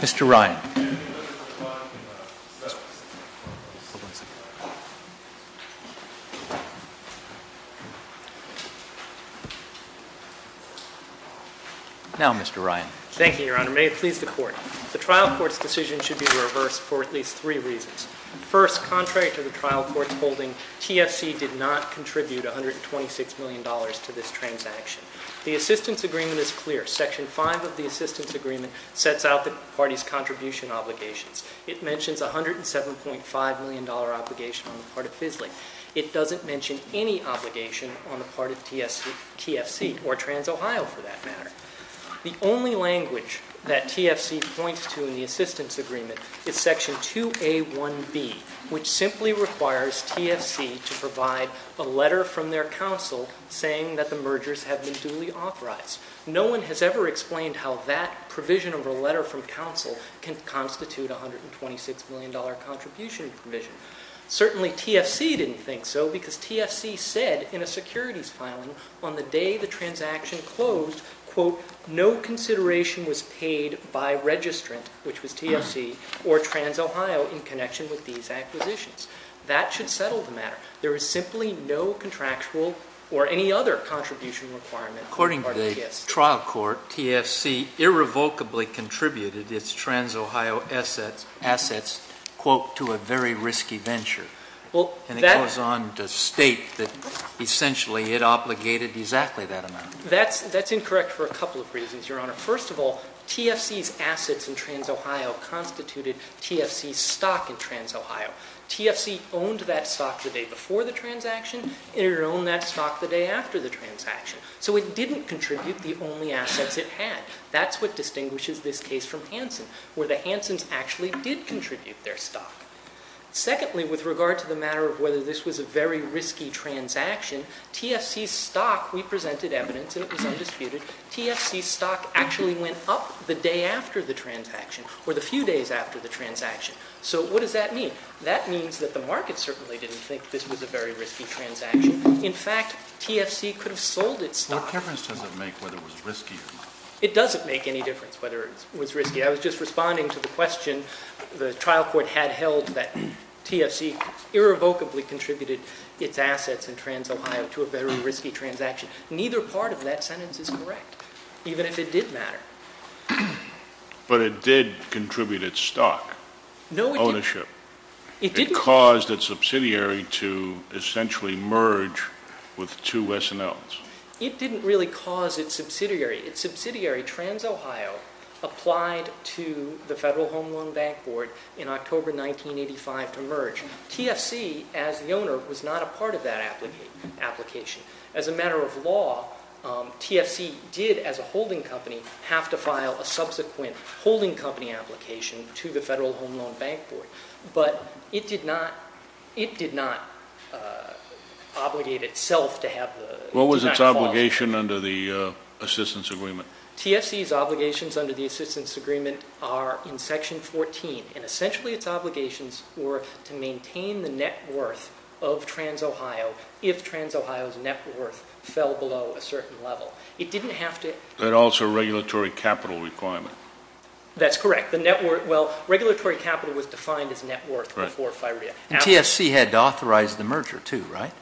Mr. Ryan. Now Mr. Ryan. Thank you, Your Honor. May it please the Court. The trial court's decision should be reversed for at least three reasons. First, contrary to the trial court's holding, TFC did not contribute $126 million to this transaction. The assistance agreement is clear. Section 5 of the assistance agreement sets out the party's contribution obligations. It mentions a $107.5 million obligation on the part of FSLE. It doesn't mention any obligation on the part of TFC, or TransOhio for that matter. The only language that TFC points to in the assistance agreement is Section 2A1B, which simply requires TFC to provide a letter from their counsel saying that the mergers have been duly authorized. No one has ever explained how that provision of a letter from counsel can constitute a $126 million contribution provision. Certainly TFC didn't think so because TFC said in a securities filing on the day the no consideration was paid by registrant, which was TFC, or TransOhio in connection with these acquisitions. That should settle the matter. There is simply no contractual or any other contribution requirement on the part of TFC. According to the trial court, TFC irrevocably contributed its TransOhio assets, quote, to a very risky venture, and it goes on to state that essentially it obligated exactly that amount. That's incorrect for a couple of reasons, Your Honor. First of all, TFC's assets in TransOhio constituted TFC's stock in TransOhio. TFC owned that stock the day before the transaction, it owned that stock the day after the transaction. So it didn't contribute the only assets it had. That's what distinguishes this case from Hansen, where the Hansens actually did contribute their stock. Secondly, with regard to the matter of whether this was a very risky transaction, TFC's stock we presented evidence, and it was undisputed, TFC's stock actually went up the day after the transaction, or the few days after the transaction. So what does that mean? That means that the market certainly didn't think this was a very risky transaction. In fact, TFC could have sold its stock. What difference does it make whether it was risky or not? It doesn't make any difference whether it was risky. I was just responding to the question the trial court had held that TFC irrevocably contributed its assets in TransOhio to a very risky transaction. Neither part of that sentence is correct, even if it did matter. But it did contribute its stock, ownership. It caused its subsidiary to essentially merge with two S&Ls. It didn't really cause its subsidiary. Its subsidiary, TransOhio, applied to the Federal Home Loan Bank Board in October 1985 to merge. TFC, as the owner, was not a part of that application. As a matter of law, TFC did, as a holding company, have to file a subsequent holding company application to the Federal Home Loan Bank Board. But it did not obligate itself to have the transaction. What was its obligation under the assistance agreement? TFC's obligations under the assistance agreement are in Section 14. Essentially, its obligations were to maintain the net worth of TransOhio if TransOhio's net worth fell below a certain level. It didn't have to... But also regulatory capital requirement. That's correct. The net worth... Well, regulatory capital was defined as net worth before FIREA. And TFC had to authorize the merger, too, right?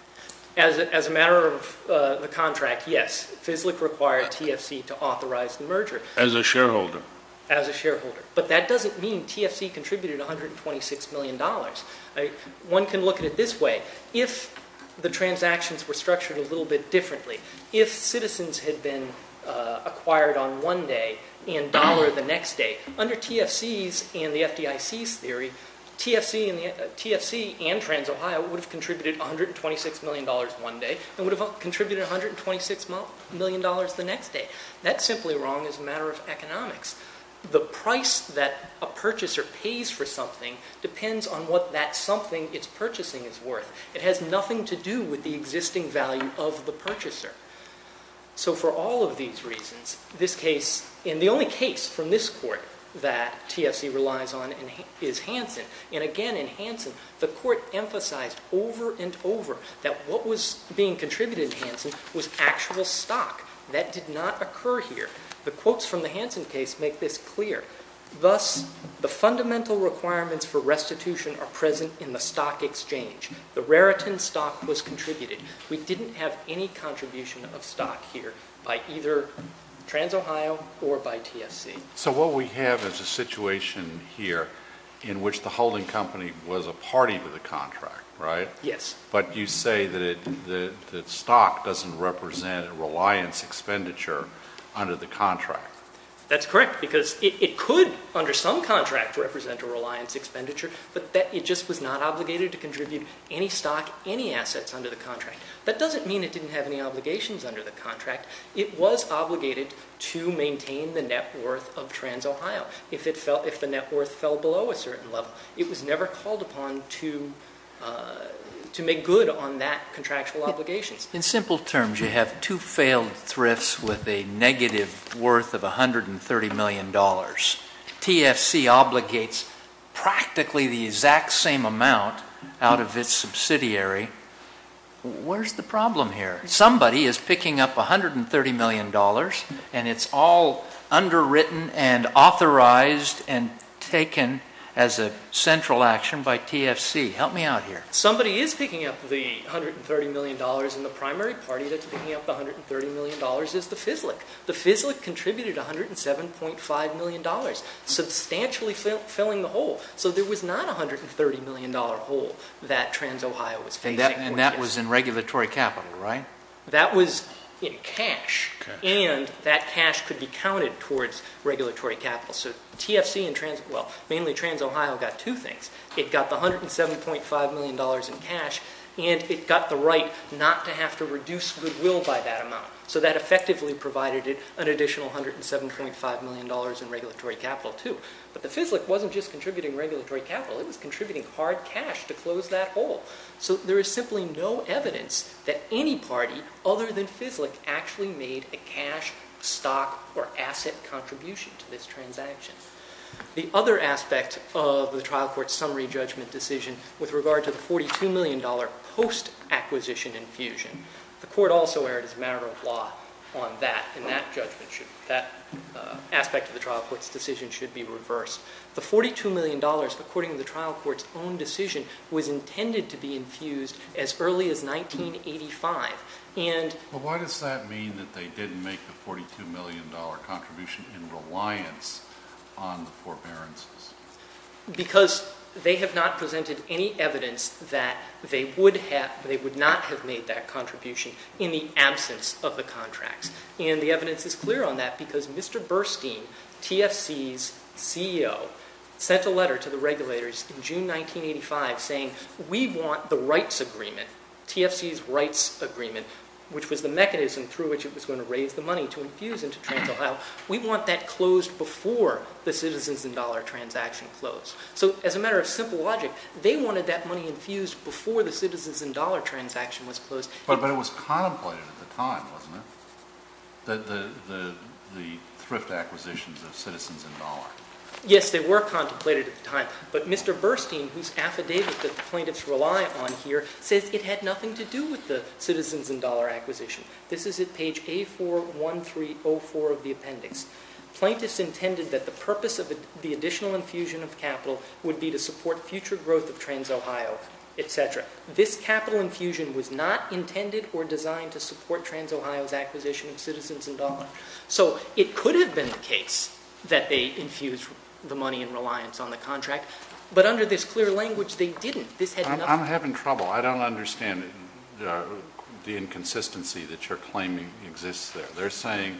As a matter of the contract, yes. FSLIC required TFC to authorize the merger. As a shareholder. As a shareholder. But that doesn't mean TFC contributed $126 million. One can look at it this way. If the transactions were structured a little bit differently, if citizens had been acquired on one day and dollar the next day, under TFC's and the FDIC's theory, TFC and TransOhio would have contributed $126 million one day and would have contributed $126 million the next day. That's simply wrong as a matter of economics. The price that a purchaser pays for something depends on what that something it's purchasing is worth. It has nothing to do with the existing value of the purchaser. So for all of these reasons, this case, and the only case from this court that TFC relies on is Hansen. And again, in Hansen, the court emphasized over and over that what was being contributed in Hansen was actual stock. That did not occur here. The quotes from the Hansen case make this clear. Thus, the fundamental requirements for restitution are present in the stock exchange. The Raritan stock was contributed. We didn't have any contribution of stock here by either TransOhio or by TFC. So what we have is a situation here in which the holding company was a party to the contract, right? Yes. But you say that the stock doesn't represent a reliance expenditure under the contract. That's correct, because it could, under some contract, represent a reliance expenditure, but it just was not obligated to contribute any stock, any assets under the contract. That doesn't mean it didn't have any obligations under the contract. It was obligated to maintain the net worth of TransOhio. However, if the net worth fell below a certain level, it was never called upon to make good on that contractual obligation. In simple terms, you have two failed thrifts with a negative worth of $130 million. TFC obligates practically the exact same amount out of its subsidiary. Where's the problem here? Somebody is picking up $130 million, and it's all underwritten and authorized and taken as a central action by TFC. Help me out here. Somebody is picking up the $130 million, and the primary party that's picking up the $130 million is the FISLIC. The FISLIC contributed $107.5 million, substantially filling the hole. So there was not a $130 million hole that TransOhio was facing. And that was in regulatory capital, right? That was in cash, and that cash could be counted towards regulatory capital. So TFC and, well, mainly TransOhio got two things. It got the $107.5 million in cash, and it got the right not to have to reduce goodwill by that amount. So that effectively provided it an additional $107.5 million in regulatory capital, too. But the FISLIC wasn't just contributing regulatory capital. It was contributing hard cash to close that hole. So there is simply no evidence that any party other than FISLIC actually made a cash, stock, or asset contribution to this transaction. The other aspect of the trial court's summary judgment decision with regard to the $42 million post-acquisition infusion, the court also erred as a matter of law on that. And that judgment should, that aspect of the trial court's decision should be reversed. The $42 million, according to the trial court's own decision, was intended to be infused as early as 1985. And why does that mean that they didn't make the $42 million contribution in reliance on the forbearances? Because they have not presented any evidence that they would have, they would not have made that contribution in the absence of the contracts. And the evidence is clear on that because Mr. Burstein, TFC's CEO, sent a letter to the regulators in June 1985 saying, we want the rights agreement, TFC's rights agreement, which was the mechanism through which it was going to raise the money to infuse into Trans-Ohio. We want that closed before the citizens and dollar transaction closed. So as a matter of simple logic, they wanted that money infused before the citizens and dollar transaction was closed. But it was contemplated at the time, wasn't it? The thrift acquisitions of citizens and dollar. Yes, they were contemplated at the time. But Mr. Burstein, whose affidavit that the plaintiffs rely on here, says it had nothing to do with the citizens and dollar acquisition. This is at page A41304 of the appendix. Plaintiffs intended that the purpose of the additional infusion of capital would be to support future growth of Trans-Ohio, et cetera. This capital infusion was not intended or designed to support Trans-Ohio's acquisition of citizens and dollar. So it could have been the case that they infused the money in reliance on the contract. But under this clear language, they didn't. This had nothing to do with it. I'm having trouble. I don't understand the inconsistency that you're claiming exists there. They're saying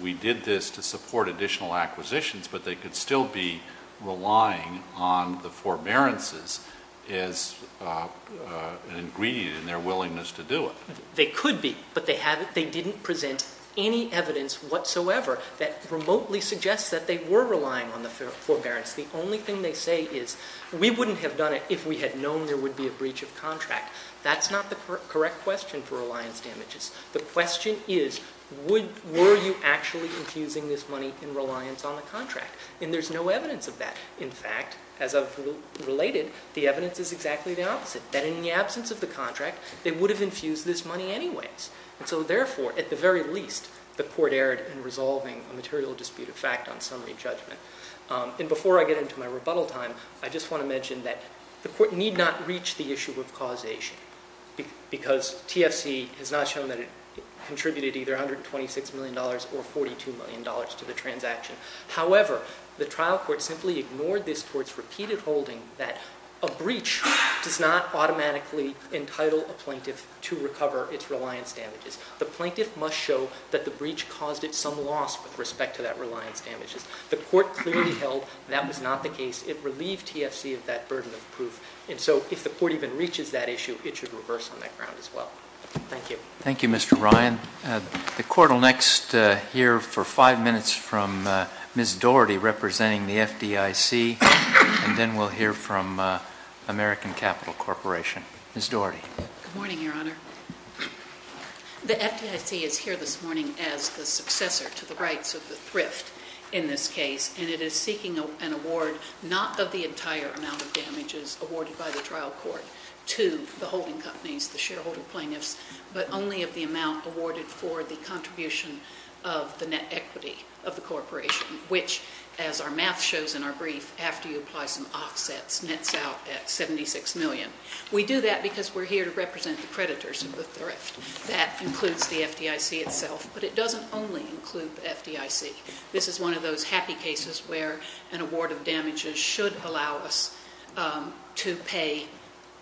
we did this to support additional acquisitions, but they could still be relying on the forbearances as an ingredient in their willingness to do it. They could be, but they didn't present any evidence whatsoever that remotely suggests that they were relying on the forbearance. The only thing they say is, we wouldn't have done it if we had known there would be a breach of contract. That's not the correct question for reliance damages. The question is, were you actually infusing this money in reliance on the contract? And there's no evidence of that. In fact, as I've related, the evidence is exactly the opposite. That in the absence of the contract, they would have infused this money anyways. And so therefore, at the very least, the court erred in resolving a material dispute of fact on summary judgment. And before I get into my rebuttal time, I just want to mention that the court need not reach the issue of causation. Because TFC has not shown that it contributed either $126 million or $42 million to the transaction. However, the trial court simply ignored this court's repeated holding that a breach does not automatically entitle a plaintiff to recover its reliance damages. The plaintiff must show that the breach caused it some loss with respect to that reliance damages. The court clearly held that was not the case. It relieved TFC of that burden of proof. And so if the court even reaches that issue, it should reverse on that ground as well. Thank you. Thank you, Mr. Ryan. The court will next hear for five minutes from Ms. Daugherty representing the FDIC, and then we'll hear from American Capital Corporation. Ms. Daugherty. Good morning, Your Honor. The FDIC is here this morning as the successor to the rights of the thrift in this case, and it is seeking an award not of the entire amount of damages awarded by the trial court to the holding companies, the shareholder plaintiffs, but only of the amount awarded for the contribution of the net equity of the corporation, which as our math shows in our brief, after you apply some offsets, nets out at 76 million. We do that because we're here to represent the creditors of the thrift. That includes the FDIC itself, but it doesn't only include the FDIC. This is one of those happy cases where an award of damages should allow us to pay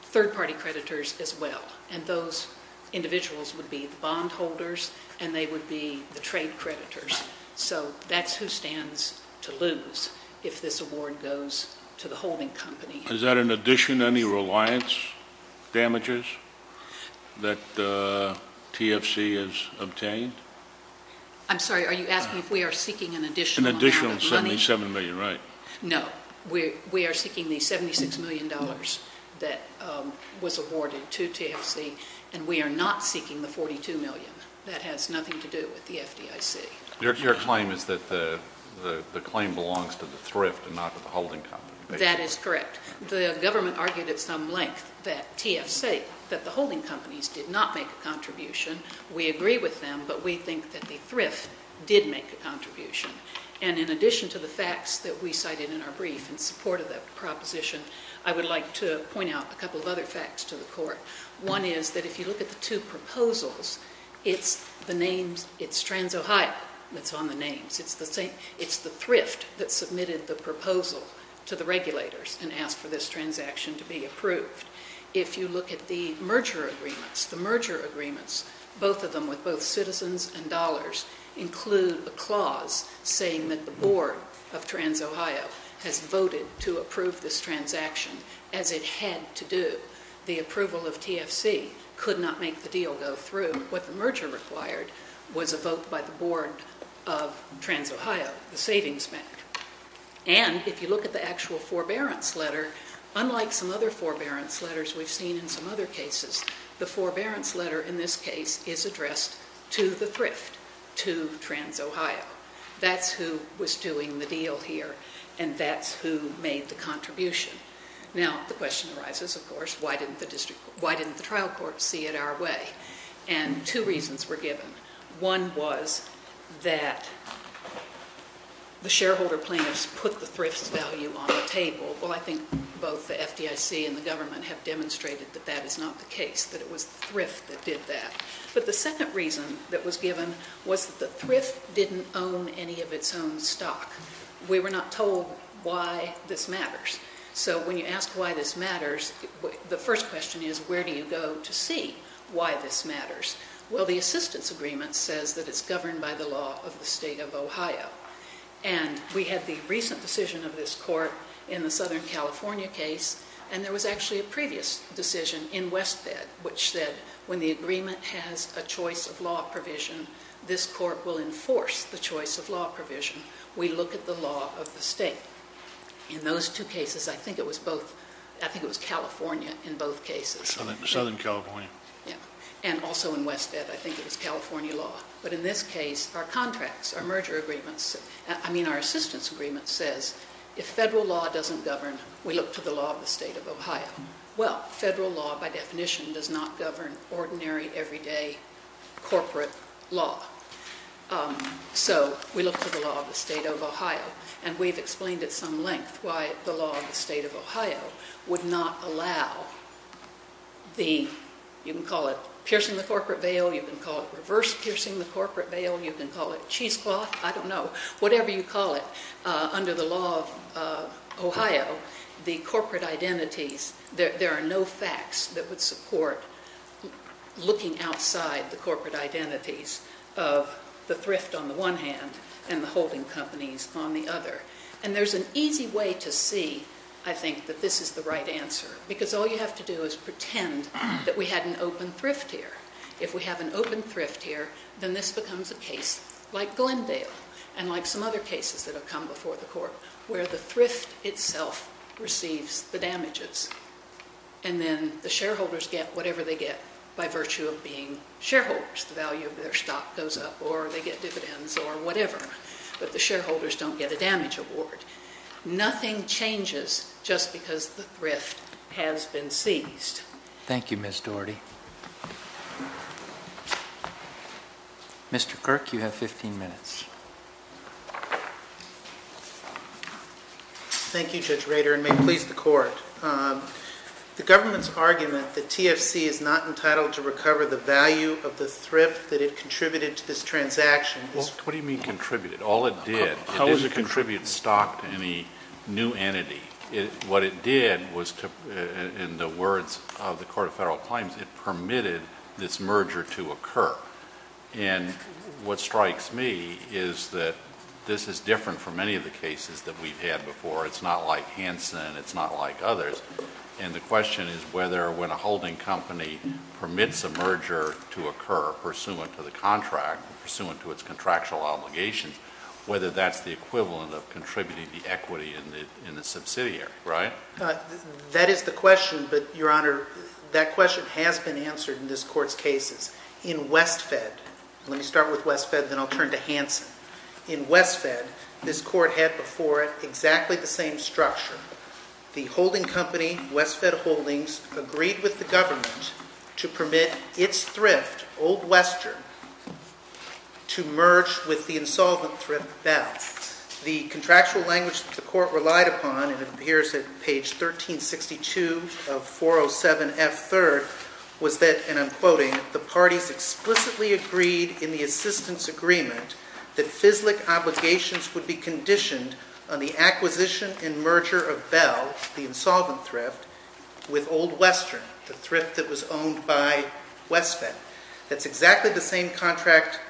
third-party creditors as well. And those individuals would be the bondholders, and they would be the trade creditors. So that's who stands to lose if this award goes to the holding company. Is that in addition to any reliance damages that the TFC has obtained? I'm sorry, are you asking if we are seeking an additional amount of money? An additional 77 million, right. No. We are seeking the 76 million dollars that was awarded to TFC, and we are not seeking the 42 million. That has nothing to do with the FDIC. Your claim is that the claim belongs to the thrift and not to the holding company. That is correct. The government argued at some length that TFC, that the holding companies did not make a contribution. We agree with them, but we think that the thrift did make a contribution. And in addition to the facts that we cited in our brief in support of that proposition, I would like to point out a couple of other facts to the court. One is that if you look at the two proposals, it's the names, it's TransOhio that's on the names. It's the thrift that submitted the proposal to the regulators and asked for this transaction to be approved. If you look at the merger agreements, the merger agreements, both of them with both citizens and dollars, include a clause saying that the board of TransOhio has voted to approve this transaction, as it had to do. The approval of TFC could not make the deal go through. What the merger required was a vote by the board of TransOhio, the savings bank. And if you look at the actual forbearance letter, unlike some other forbearance letters we've seen in some other cases, the forbearance letter in this case is addressed to the thrift, to TransOhio. That's who was doing the deal here, and that's who made the contribution. Now, the question arises, of course, why didn't the trial court see it our way? And two reasons were given. One was that the shareholder plaintiffs put the thrift's value on the table. Well, I think both the FDIC and the government have demonstrated that that is not the case, that it was thrift that did that. But the second reason that was given was that the thrift didn't own any of its own stock. We were not told why this matters. So when you ask why this matters, the first question is, where do you go to see why this matters? Well, the assistance agreement says that it's governed by the law of the state of Ohio. And we had the recent decision of this court in the Southern California case, and there was actually a previous decision in West Bed which said, when the agreement has a choice of law provision, this court will enforce the choice of law provision. We look at the law of the state. In those two cases, I think it was California in both cases. Southern California. Yeah, and also in West Bed, I think it was California law. But in this case, our contracts, our merger agreements, I mean, our assistance agreement says, if federal law doesn't govern, we look to the law of the state of Ohio. Well, federal law, by definition, does not govern ordinary, everyday corporate law. So we look to the law of the state of Ohio. And we've explained at some length why the law of the state of Ohio would not allow the, you can call it piercing the corporate veil, you can call it reverse piercing the corporate veil, you can call it cheesecloth, I don't know, whatever you call it, under the law of Ohio, the corporate identities, there are no facts that would support looking outside the corporate identities of the thrift on the one hand, and the holding companies on the other. And there's an easy way to see, I think, that this is the right answer. Because all you have to do is pretend that we had an open thrift here. If we have an open thrift here, then this becomes a case like Glendale, and like some other cases that have come before the court, where the thrift itself receives the damages, and then the shareholders get whatever they get by virtue of being shareholders, the value of their stock goes up, or they get dividends, or whatever. But the shareholders don't get a damage award. Nothing changes just because the thrift has been seized. Thank you, Ms. Dougherty. Mr. Kirk, you have 15 minutes. Thank you, Judge Rader, and may it please the court. The government's argument that TFC is not entitled to recover the value of the thrift that it contributed to this transaction is- What do you mean contributed? All it did, it didn't contribute stock to any new entity. What it did was, in the words of the Court of Federal Claims, it permitted this merger to occur. And what strikes me is that this is different from any of the cases that we've had before. It's not like Hanson, it's not like others. And the question is whether when a holding company permits a merger to occur, pursuant to the contract, pursuant to its contractual obligations, whether that's the equivalent of contributing the equity in the subsidiary, right? That is the question, but your honor, that question has been answered in this court's cases. In West Fed, let me start with West Fed, then I'll turn to Hanson. In West Fed, this court had before it exactly the same structure. The holding company, West Fed Holdings, agreed with the government to permit its thrift, Old Western, to merge with the insolvent thrift, Bell. The contractual language that the court relied upon, it appears at page 1362 of 407F3rd, was that, and I'm quoting, the parties explicitly agreed in the assistance agreement that FISLIC obligations would be conditioned on the acquisition and merger of Bell, the insolvent thrift, with Old Western, the thrift that was owned by West Fed. That's exactly the same contract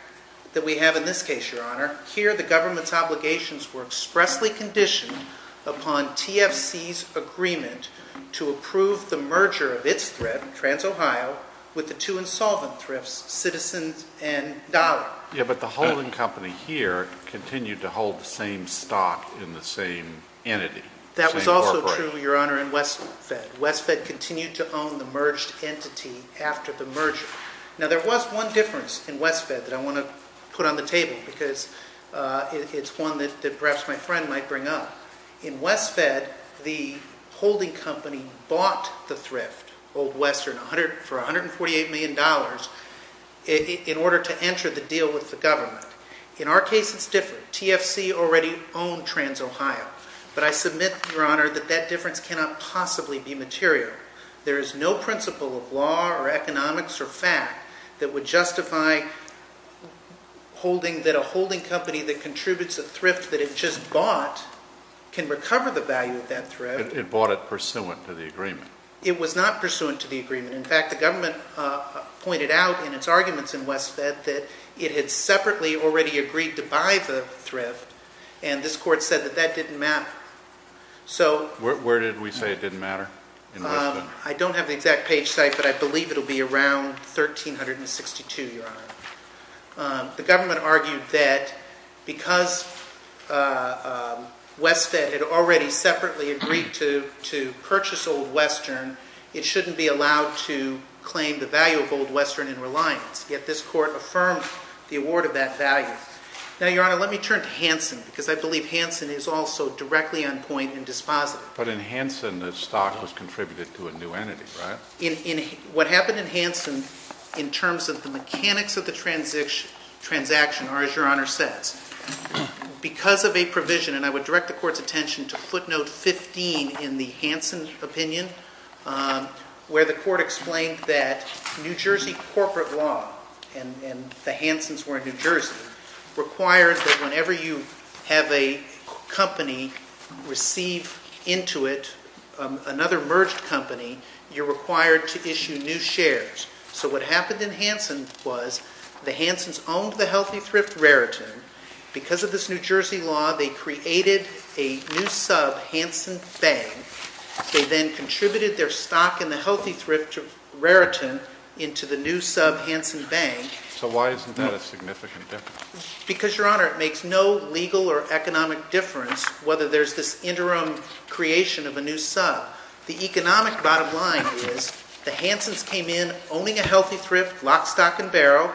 that we have in this case, your honor. Here, the government's obligations were expressly conditioned upon TFC's agreement to approve the merger of its thrift, Trans Ohio, with the two insolvent thrifts, Citizens and Dollar. Yeah, but the holding company here continued to hold the same stock in the same entity. That was also true, your honor, in West Fed. West Fed continued to own the merged entity after the merger. Now, there was one difference in West Fed that I want to put on the table, because it's one that perhaps my friend might bring up. In West Fed, the holding company bought the thrift, Old Western, for $148 million in order to enter the deal with the government. In our case, it's different. TFC already owned Trans Ohio. But I submit, your honor, that that difference cannot possibly be material. There is no principle of law or economics or fact that would justify holding that a holding company that contributes a thrift that it just bought can recover the value of that thrift. It bought it pursuant to the agreement. It was not pursuant to the agreement. In fact, the government pointed out in its arguments in West Fed that it had separately already agreed to buy the thrift. And this court said that that didn't matter. So- Where did we say it didn't matter in West Fed? I don't have the exact page site, but I believe it'll be around 1,362, your honor. The government argued that because West Fed had already separately agreed to purchase Old Western, it shouldn't be allowed to claim the value of Old Western in reliance. Yet this court affirmed the award of that value. Now, your honor, let me turn to Hansen, because I believe Hansen is also directly on point and dispositive. But in Hansen, the stock was contributed to a new entity, right? What happened in Hansen in terms of the mechanics of the transaction are, as your honor says, because of a provision, and I would direct the court's attention to footnote 15 in the Hansen opinion, where the court explained that New Jersey corporate law, and the Hansens were in New Jersey, required that whenever you have a company receive into it another merged company, you're required to issue new shares. So what happened in Hansen was the Hansens owned the Healthy Thrift Raritan. Because of this New Jersey law, they created a new sub, Hansen Bank. They then contributed their stock in the Healthy Thrift Raritan into the new sub, Hansen Bank. So why isn't that a significant difference? Because, your honor, it makes no legal or economic difference whether there's this interim creation of a new sub. The economic bottom line is the Hansens came in owning a Healthy Thrift, lock, stock, and barrel.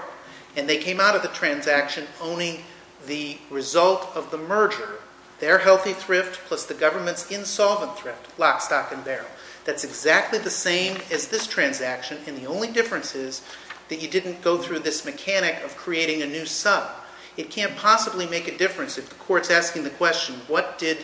And they came out of the transaction owning the result of the merger, their Healthy Thrift, plus the government's insolvent thrift, lock, stock, and barrel. That's exactly the same as this transaction. And the only difference is that you didn't go through this mechanic of creating a new sub. It can't possibly make a difference if the court's asking the question, what did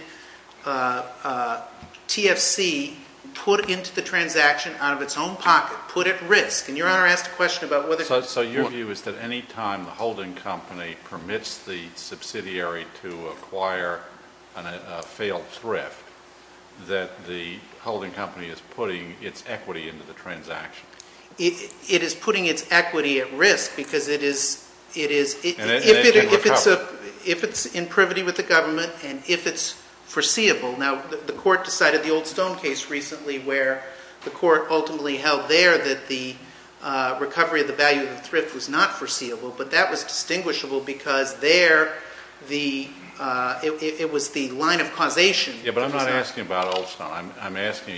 TFC put into the transaction out of its own pocket, put at risk? And your honor asked a question about whether it's important. So your view is that any time the holding company permits the subsidiary to acquire a failed thrift, that the holding company is putting its equity into the transaction. It is putting its equity at risk because it is, if it's in privity with the government and if it's foreseeable. Now, the court decided the Old Stone case recently where the court ultimately held there that the recovery of the value of the thrift was not foreseeable. But that was distinguishable because there, it was the line of causation. Yeah, but I'm not asking about Old Stone. I'm asking,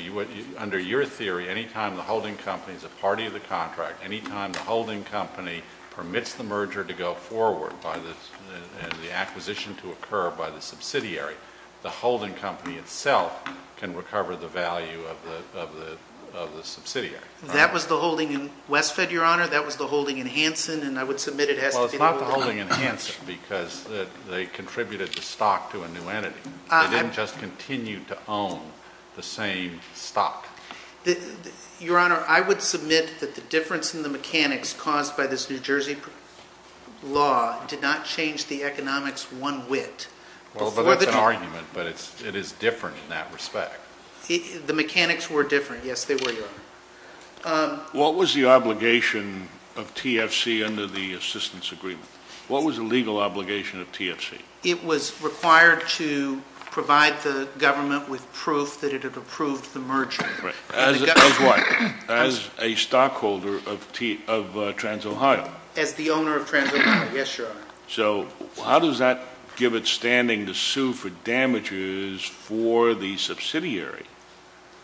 under your theory, any time the holding company is a party of the contract, any time the holding company permits the merger to go forward and the acquisition to occur by the subsidiary, the holding company itself can recover the value of the subsidiary. That was the holding in Westfed, your honor. That was the holding in Hanson. And I would submit it has to be the holding in Hanson. Well, it's not the holding in Hanson because they contributed the stock to a new entity. They didn't just continue to own the same stock. Your honor, I would submit that the difference in the mechanics caused by this New Jersey law did not change the economics one whit. Well, but that's an argument. But it is different in that respect. The mechanics were different. Yes, they were, your honor. What was the obligation of TFC under the assistance agreement? What was the legal obligation of TFC? It was required to provide the government with proof that it had approved the merger. Right. As what? As a stockholder of TransOhio. As the owner of TransOhio, yes, your honor. So how does that give it standing to sue for damages for the subsidiary?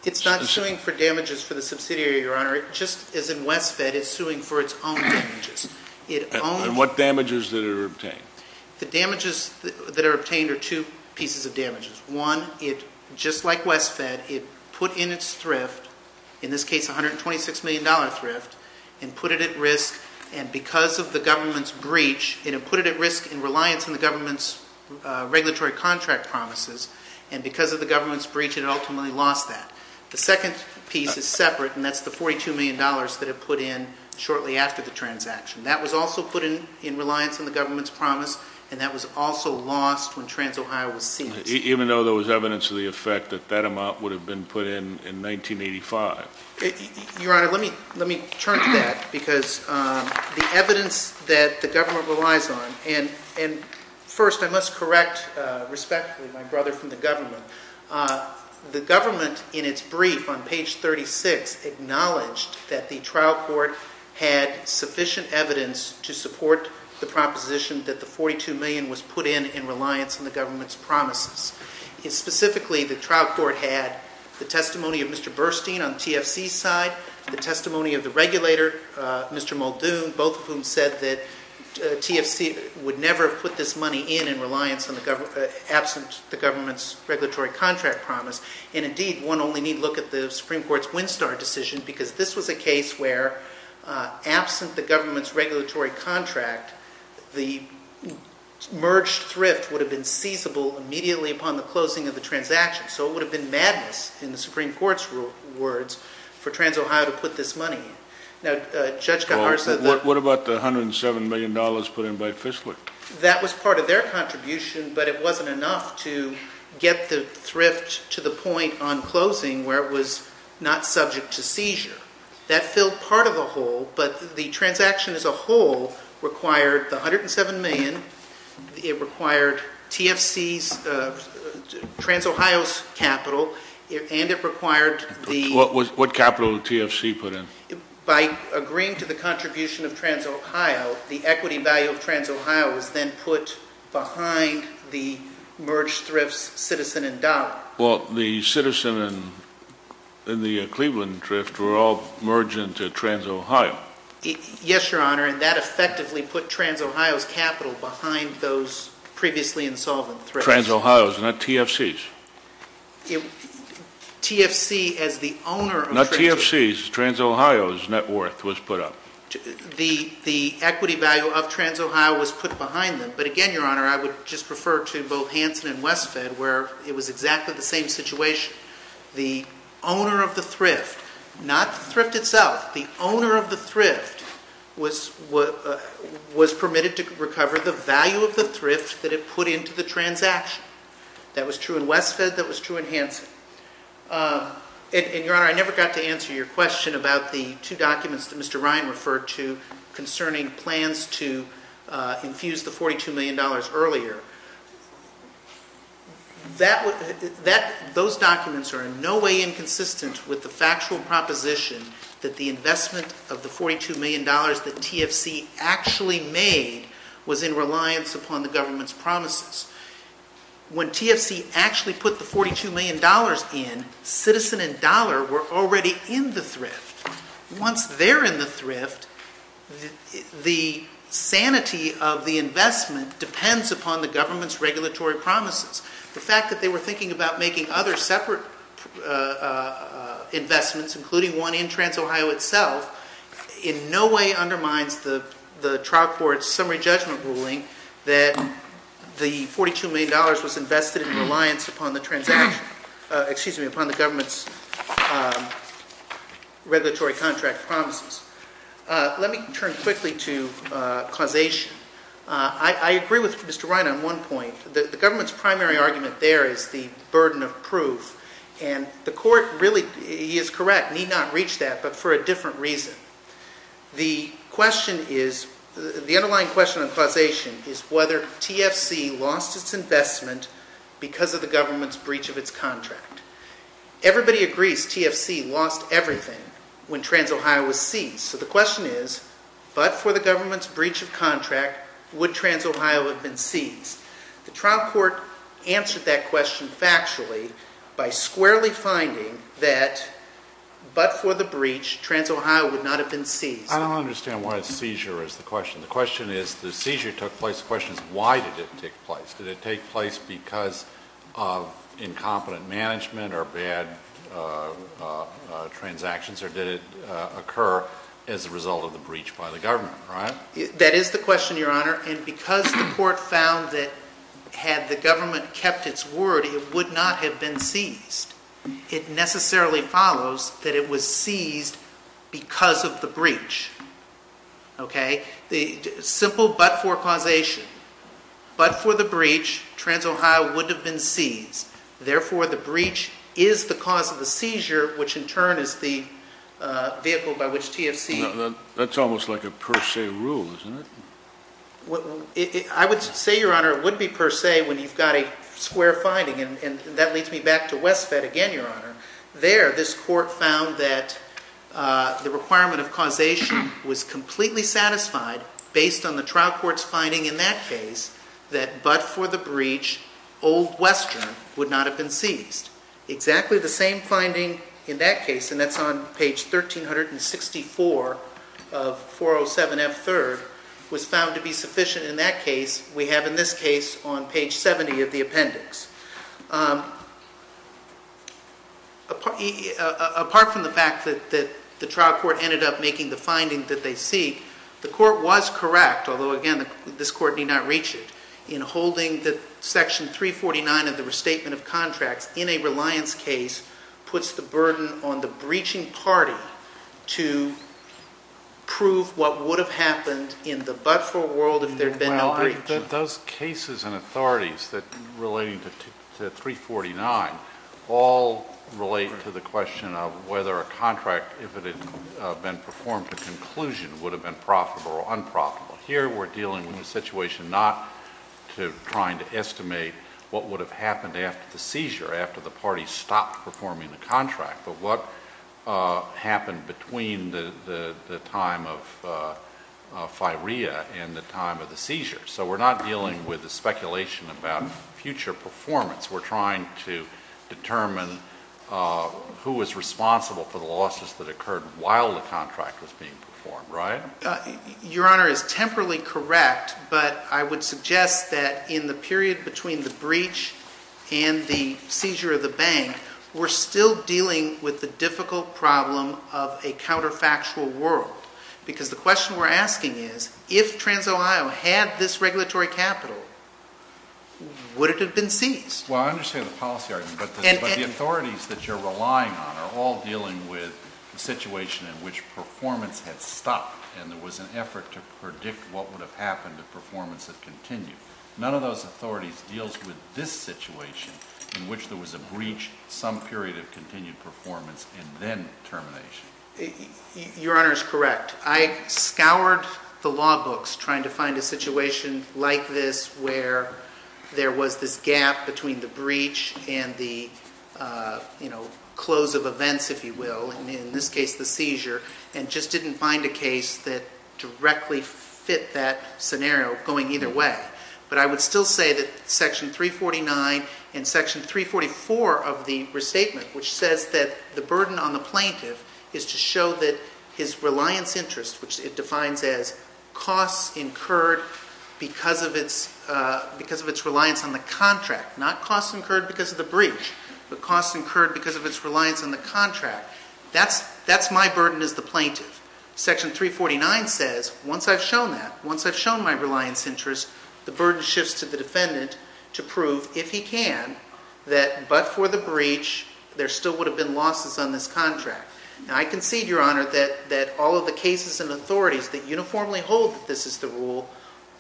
It's not suing for damages for the subsidiary, your honor. Just as in WestFed, it's suing for its own damages. What damages did it obtain? The damages that are obtained are two pieces of damages. One, just like WestFed, it put in its thrift, in this case $126 million thrift, and put it at risk. And because of the government's breach, it put it at risk in reliance on the government's regulatory contract promises. And because of the government's breach, it ultimately lost that. The second piece is separate, and that's the $42 million that it put in shortly after the transaction. That was also put in in reliance on the government's promise, and that was also lost when TransOhio was seized. Even though there was evidence of the effect that that amount would have been put in in 1985? Your honor, let me turn to that, because the evidence that the government relies on, and first, I must correct, respectfully, my brother from the government. The government, in its brief on page 36, acknowledged that the trial court had sufficient evidence to support the proposition that the $42 million was put in in reliance on the government's promises. And specifically, the trial court had the testimony of Mr. Burstein on the TFC side, the testimony of the regulator, Mr. Muldoon, both of whom said that TFC would never have put this money in in reliance on the government, absent the government's regulatory contract promise. And indeed, one only need look at the Supreme Court's WinStar decision, because this was a case where, absent the government's regulatory contract, the merged thrift would have been seizable immediately upon the closing of the transaction. So it would have been madness, in the Supreme Court's words, for TransOhio to put this money in. Now, Judge Garza- What about the $107 million put in by Fishley? That was part of their contribution, but it wasn't enough to get the thrift to the point on closing, where it was not subject to seizure. That filled part of the hole, but the transaction as a whole required the $107 million, it required TFC's, TransOhio's capital, and it required the- What capital did TFC put in? By agreeing to the contribution of TransOhio, the equity value of TransOhio was then put behind the merged thrift's citizen and dollar. Well, the citizen and the Cleveland thrift were all merged into TransOhio. Yes, Your Honor, and that effectively put TransOhio's capital behind those previously insolvent thrifts. TransOhio's, not TFC's. TFC, as the owner of- Not TFC's, TransOhio's net worth was put up. The equity value of TransOhio was put behind them, but again, Your Honor, I would just refer to both Hanson and Westfed, where it was exactly the same situation. The owner of the thrift, not the thrift itself, the owner of the thrift was permitted to recover the value of the thrift that it put into the transaction. That was true in Westfed, that was true in Hanson. And Your Honor, I never got to answer your question about the two documents that Mr. Ryan referred to concerning plans to infuse the $42 million earlier. Those documents are in no way inconsistent with the factual proposition that the investment of the $42 million that TFC actually made was in reliance upon the government's promises. When TFC actually put the $42 million in, citizen and dollar were already in the thrift. Once they're in the thrift, the sanity of the investment depends upon the government's regulatory promises. The fact that they were thinking about making other separate investments, including one in TransOhio itself, in no way undermines the trial court's summary judgment ruling that the $42 million was invested in reliance upon the transaction, excuse me, upon the government's regulatory contract promises. Let me turn quickly to causation. I agree with Mr. Ryan on one point. The government's primary argument there is the burden of proof. And the court really, he is correct, need not reach that, but for a different reason. The question is, the underlying question on causation is whether TFC lost its investment because of the government's breach of its contract. Everybody agrees TFC lost everything when TransOhio was seized. So the question is, but for the government's breach of contract, would TransOhio have been seized? The trial court answered that question factually by squarely finding that, but for the breach, TransOhio would not have been seized. I don't understand why seizure is the question. The question is, the seizure took place, the question is, why did it take place? Did it take place because of incompetent management or bad transactions, or did it occur as a result of the breach by the government, right? That is the question, Your Honor. And because the court found that had the government kept its word, it would not have been seized, it necessarily follows that it was seized because of the breach, okay? Simple, but for causation. But for the breach, TransOhio would have been seized. Therefore, the breach is the cause of the seizure, which in turn is the vehicle by which TFC. That's almost like a per se rule, isn't it? I would say, Your Honor, it would be per se when you've got a square finding, and that leads me back to Westfed again, Your Honor. There, this court found that the requirement of causation was completely satisfied based on the trial court's finding in that case that but for the breach, Old Western would not have been seized. Exactly the same finding in that case, and that's on page 1,364 of 407F third, was found to be sufficient in that case. We have in this case on page 70 of the appendix. Apart from the fact that the trial court ended up making the finding that they seek, the court was correct, although again, this court need not reach it, in holding the section 349 of the restatement of contracts in a reliance case puts the burden on the breaching party to prove what would have happened in the but for world if there'd been no breach. Those cases and authorities that relating to 349 all relate to the question of whether a contract, if it had been performed to conclusion, would have been profitable or unprofitable. Here, we're dealing with a situation not to trying to estimate what would have happened after the seizure, after the party stopped performing the contract, but what happened between the time of firea and the time of the seizure. So we're not dealing with the speculation about future performance. We're trying to determine who was responsible for the losses that occurred while the contract was being performed, right? Your Honor is temporally correct, but I would suggest that in the period between the breach and the seizure of the bank, we're still dealing with the difficult problem of a counterfactual world. Because the question we're asking is, if TransOhio had this regulatory capital, would it have been seized? Well, I understand the policy argument, but the authorities that you're relying on are all dealing with the situation in which performance had stopped and there was an effort to predict what would have happened if performance had continued. None of those authorities deals with this situation in which there was a breach, some period of continued performance, and then termination. Your Honor is correct. I scoured the law books trying to find a situation like this where there was this gap between the breach and the close of events, if you will, and in this case, the seizure, and just didn't find a case that directly fit that scenario going either way. But I would still say that section 349 and section 344 of the restatement, which says that the burden on the plaintiff is to show that his reliance interest, which it defines as costs incurred because of its reliance on the contract, not costs incurred because of the breach, but costs incurred because of its reliance on the contract, that's my burden as the plaintiff. Section 349 says, once I've shown that, once I've shown my reliance interest, the burden shifts to the defendant to prove, if he can, that but for the breach, there still would have been losses on this contract. Now I concede, Your Honor, that all of the cases and authorities that uniformly hold that this is the rule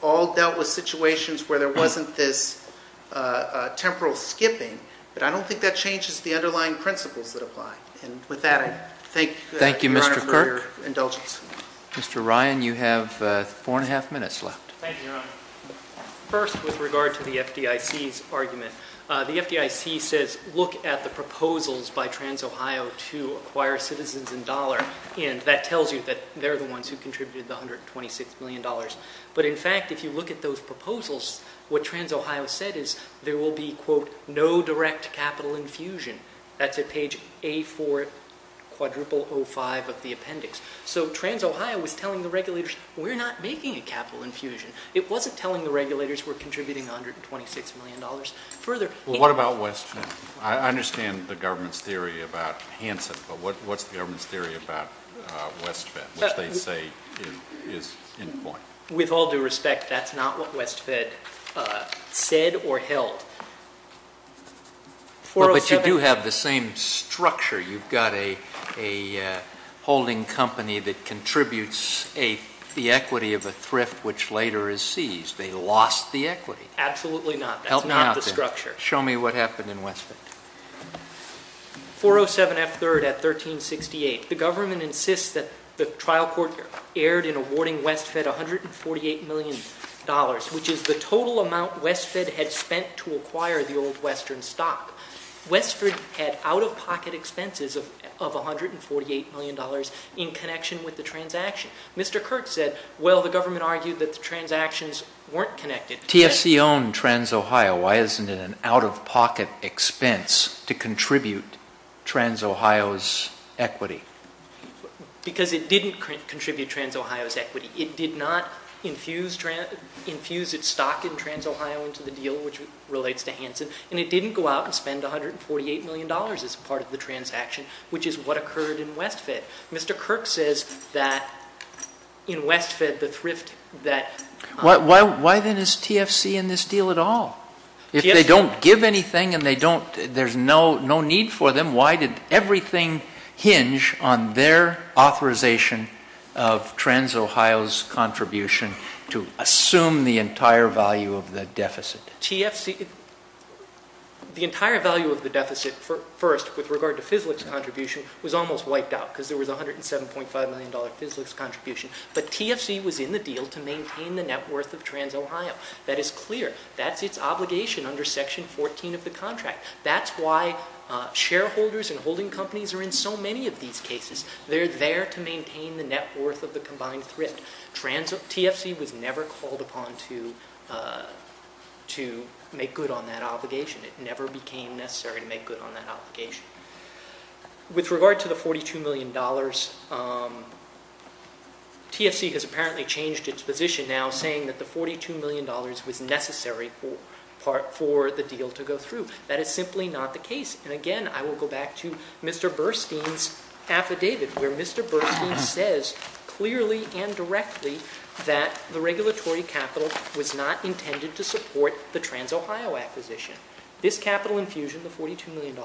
all dealt with situations where there wasn't this temporal skipping, but I don't think that changes the underlying principles that apply. And with that, I thank Your Honor for your indulgence. Thank you, Mr. Kirk. Mr. Ryan, you have four and a half minutes left. Thank you, Your Honor. First, with regard to the FDIC's argument, the FDIC says, look at the proposals by TransOhio to acquire citizens in dollar, and that tells you that they're the ones who contributed the $126 million. But in fact, if you look at those proposals, what TransOhio said is, there will be, quote, no direct capital infusion. That's at page A4, quadruple O5 of the appendix. So TransOhio was telling the regulators, we're not making a capital infusion. It wasn't telling the regulators we're contributing $126 million. Further- Well, what about West End? I understand the government's theory about Hanson, but what's the government's theory about West End, which they say is in point? With all due respect, that's not what West End said or held. 407- But you do have the same structure. You've got a holding company that contributes the equity of a thrift, which later is seized. They lost the equity. Absolutely not. That's not the structure. Show me what happened in West End. 407F3rd at 1368. The government insists that the trial court erred in awarding West Fed $148 million, which is the total amount West Fed had spent to acquire the old Western stock. West Fed had out-of-pocket expenses of $148 million in connection with the transaction. Mr. Kirk said, well, the government argued that the transactions weren't connected. TFC owned TransOhio. Why isn't it an out-of-pocket expense? To contribute TransOhio's equity. Because it didn't contribute TransOhio's equity. It did not infuse its stock in TransOhio into the deal, which relates to Hanson, and it didn't go out and spend $148 million as part of the transaction, which is what occurred in West Fed. Mr. Kirk says that in West Fed, the thrift that- Why then is TFC in this deal at all? If they don't give anything and there's no need for them, why did everything hinge on their authorization of TransOhio's contribution to assume the entire value of the deficit? The entire value of the deficit, first, with regard to FISLIC's contribution, was almost wiped out, because there was $107.5 million FISLIC's contribution. But TFC was in the deal to maintain the net worth of TransOhio. That is clear. That's its obligation under section 14 of the contract. That's why shareholders and holding companies are in so many of these cases. They're there to maintain the net worth of the combined thrift. TFC was never called upon to make good on that obligation. It never became necessary to make good on that obligation. With regard to the $42 million, TFC has apparently changed its position now, saying that the $42 million was necessary for the deal to go through. That is simply not the case. And again, I will go back to Mr. Burstein's affidavit, where Mr. Burstein says clearly and directly that the regulatory capital was not intended to support the TransOhio acquisition. This capital infusion, the $42 million,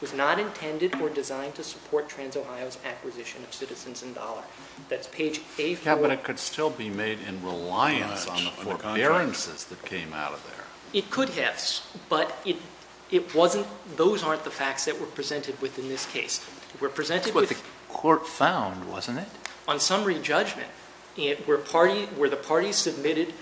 was not intended or designed to support TransOhio's acquisition of citizens in dollar. That's page A4. But it could still be made in reliance on the four appearances that came out of there. It could have, but it wasn't, those aren't the facts that were presented within this case. We're presented with- That's what the court found, wasn't it? On summary judgment, where the parties submitted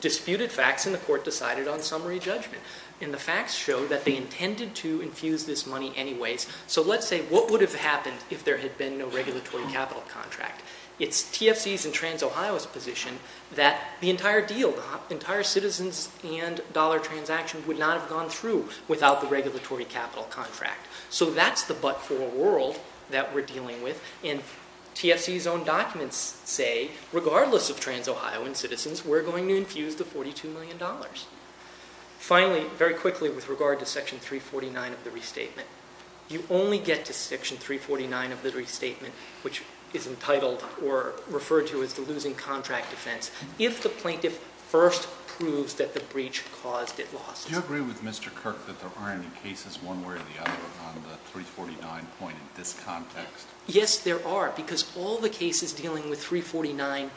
disputed facts and the court decided on summary judgment. And the facts show that they intended to infuse this money anyways. So let's say, what would have happened if there had been no regulatory capital contract? It's TFC's and TransOhio's position that the entire deal, the entire citizens and dollar transaction would not have gone through without the regulatory capital contract. So that's the but for a world that we're dealing with. And TFC's own documents say, regardless of TransOhio and citizens, we're going to infuse the $42 million. Finally, very quickly with regard to section 349 of the restatement. You only get to section 349 of the restatement, which is entitled or referred to as the losing contract defense, if the plaintiff first proves that the breach caused it lost. Do you agree with Mr. Kirk that there aren't any cases one way or the other on the 349 point in this context? Yes, there are, because all the cases dealing with 349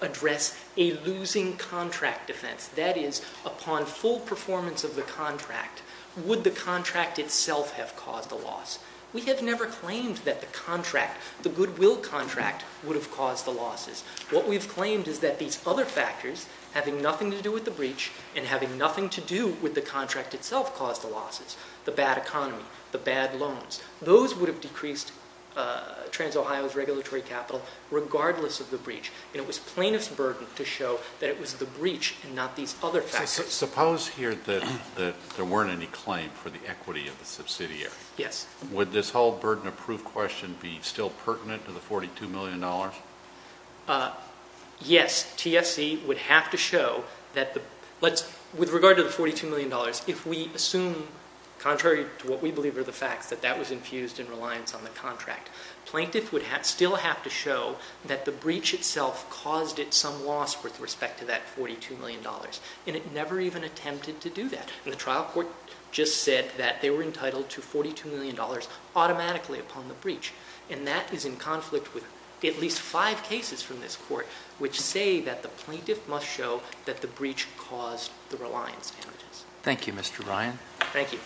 address a losing contract defense. That is, upon full performance of the contract, would the contract itself have caused a loss? We have never claimed that the contract, the goodwill contract would have caused the losses. What we've claimed is that these other factors having nothing to do with the breach and having nothing to do with the contract itself caused the losses, the bad economy, the bad loans. Those would have decreased TransOhio's regulatory capital, regardless of the breach. And it was plaintiff's burden to show that it was the breach and not these other factors. Suppose here that there weren't any claim for the equity of the subsidiary. Would this whole burden of proof question be still pertinent to the $42 million? Yes, TFC would have to show that the, with regard to the $42 million, if we assume contrary to what we believe are the facts, that that was infused in reliance on the contract, plaintiff would still have to show that the breach itself caused it some loss with respect to that $42 million. And it never even attempted to do that. And the trial court just said that they were entitled to $42 million automatically upon the breach. And that is in conflict with at least five cases from this court, which say that the plaintiff must show that the breach caused the reliance damages. Thank you, Mr. Ryan. Thank you.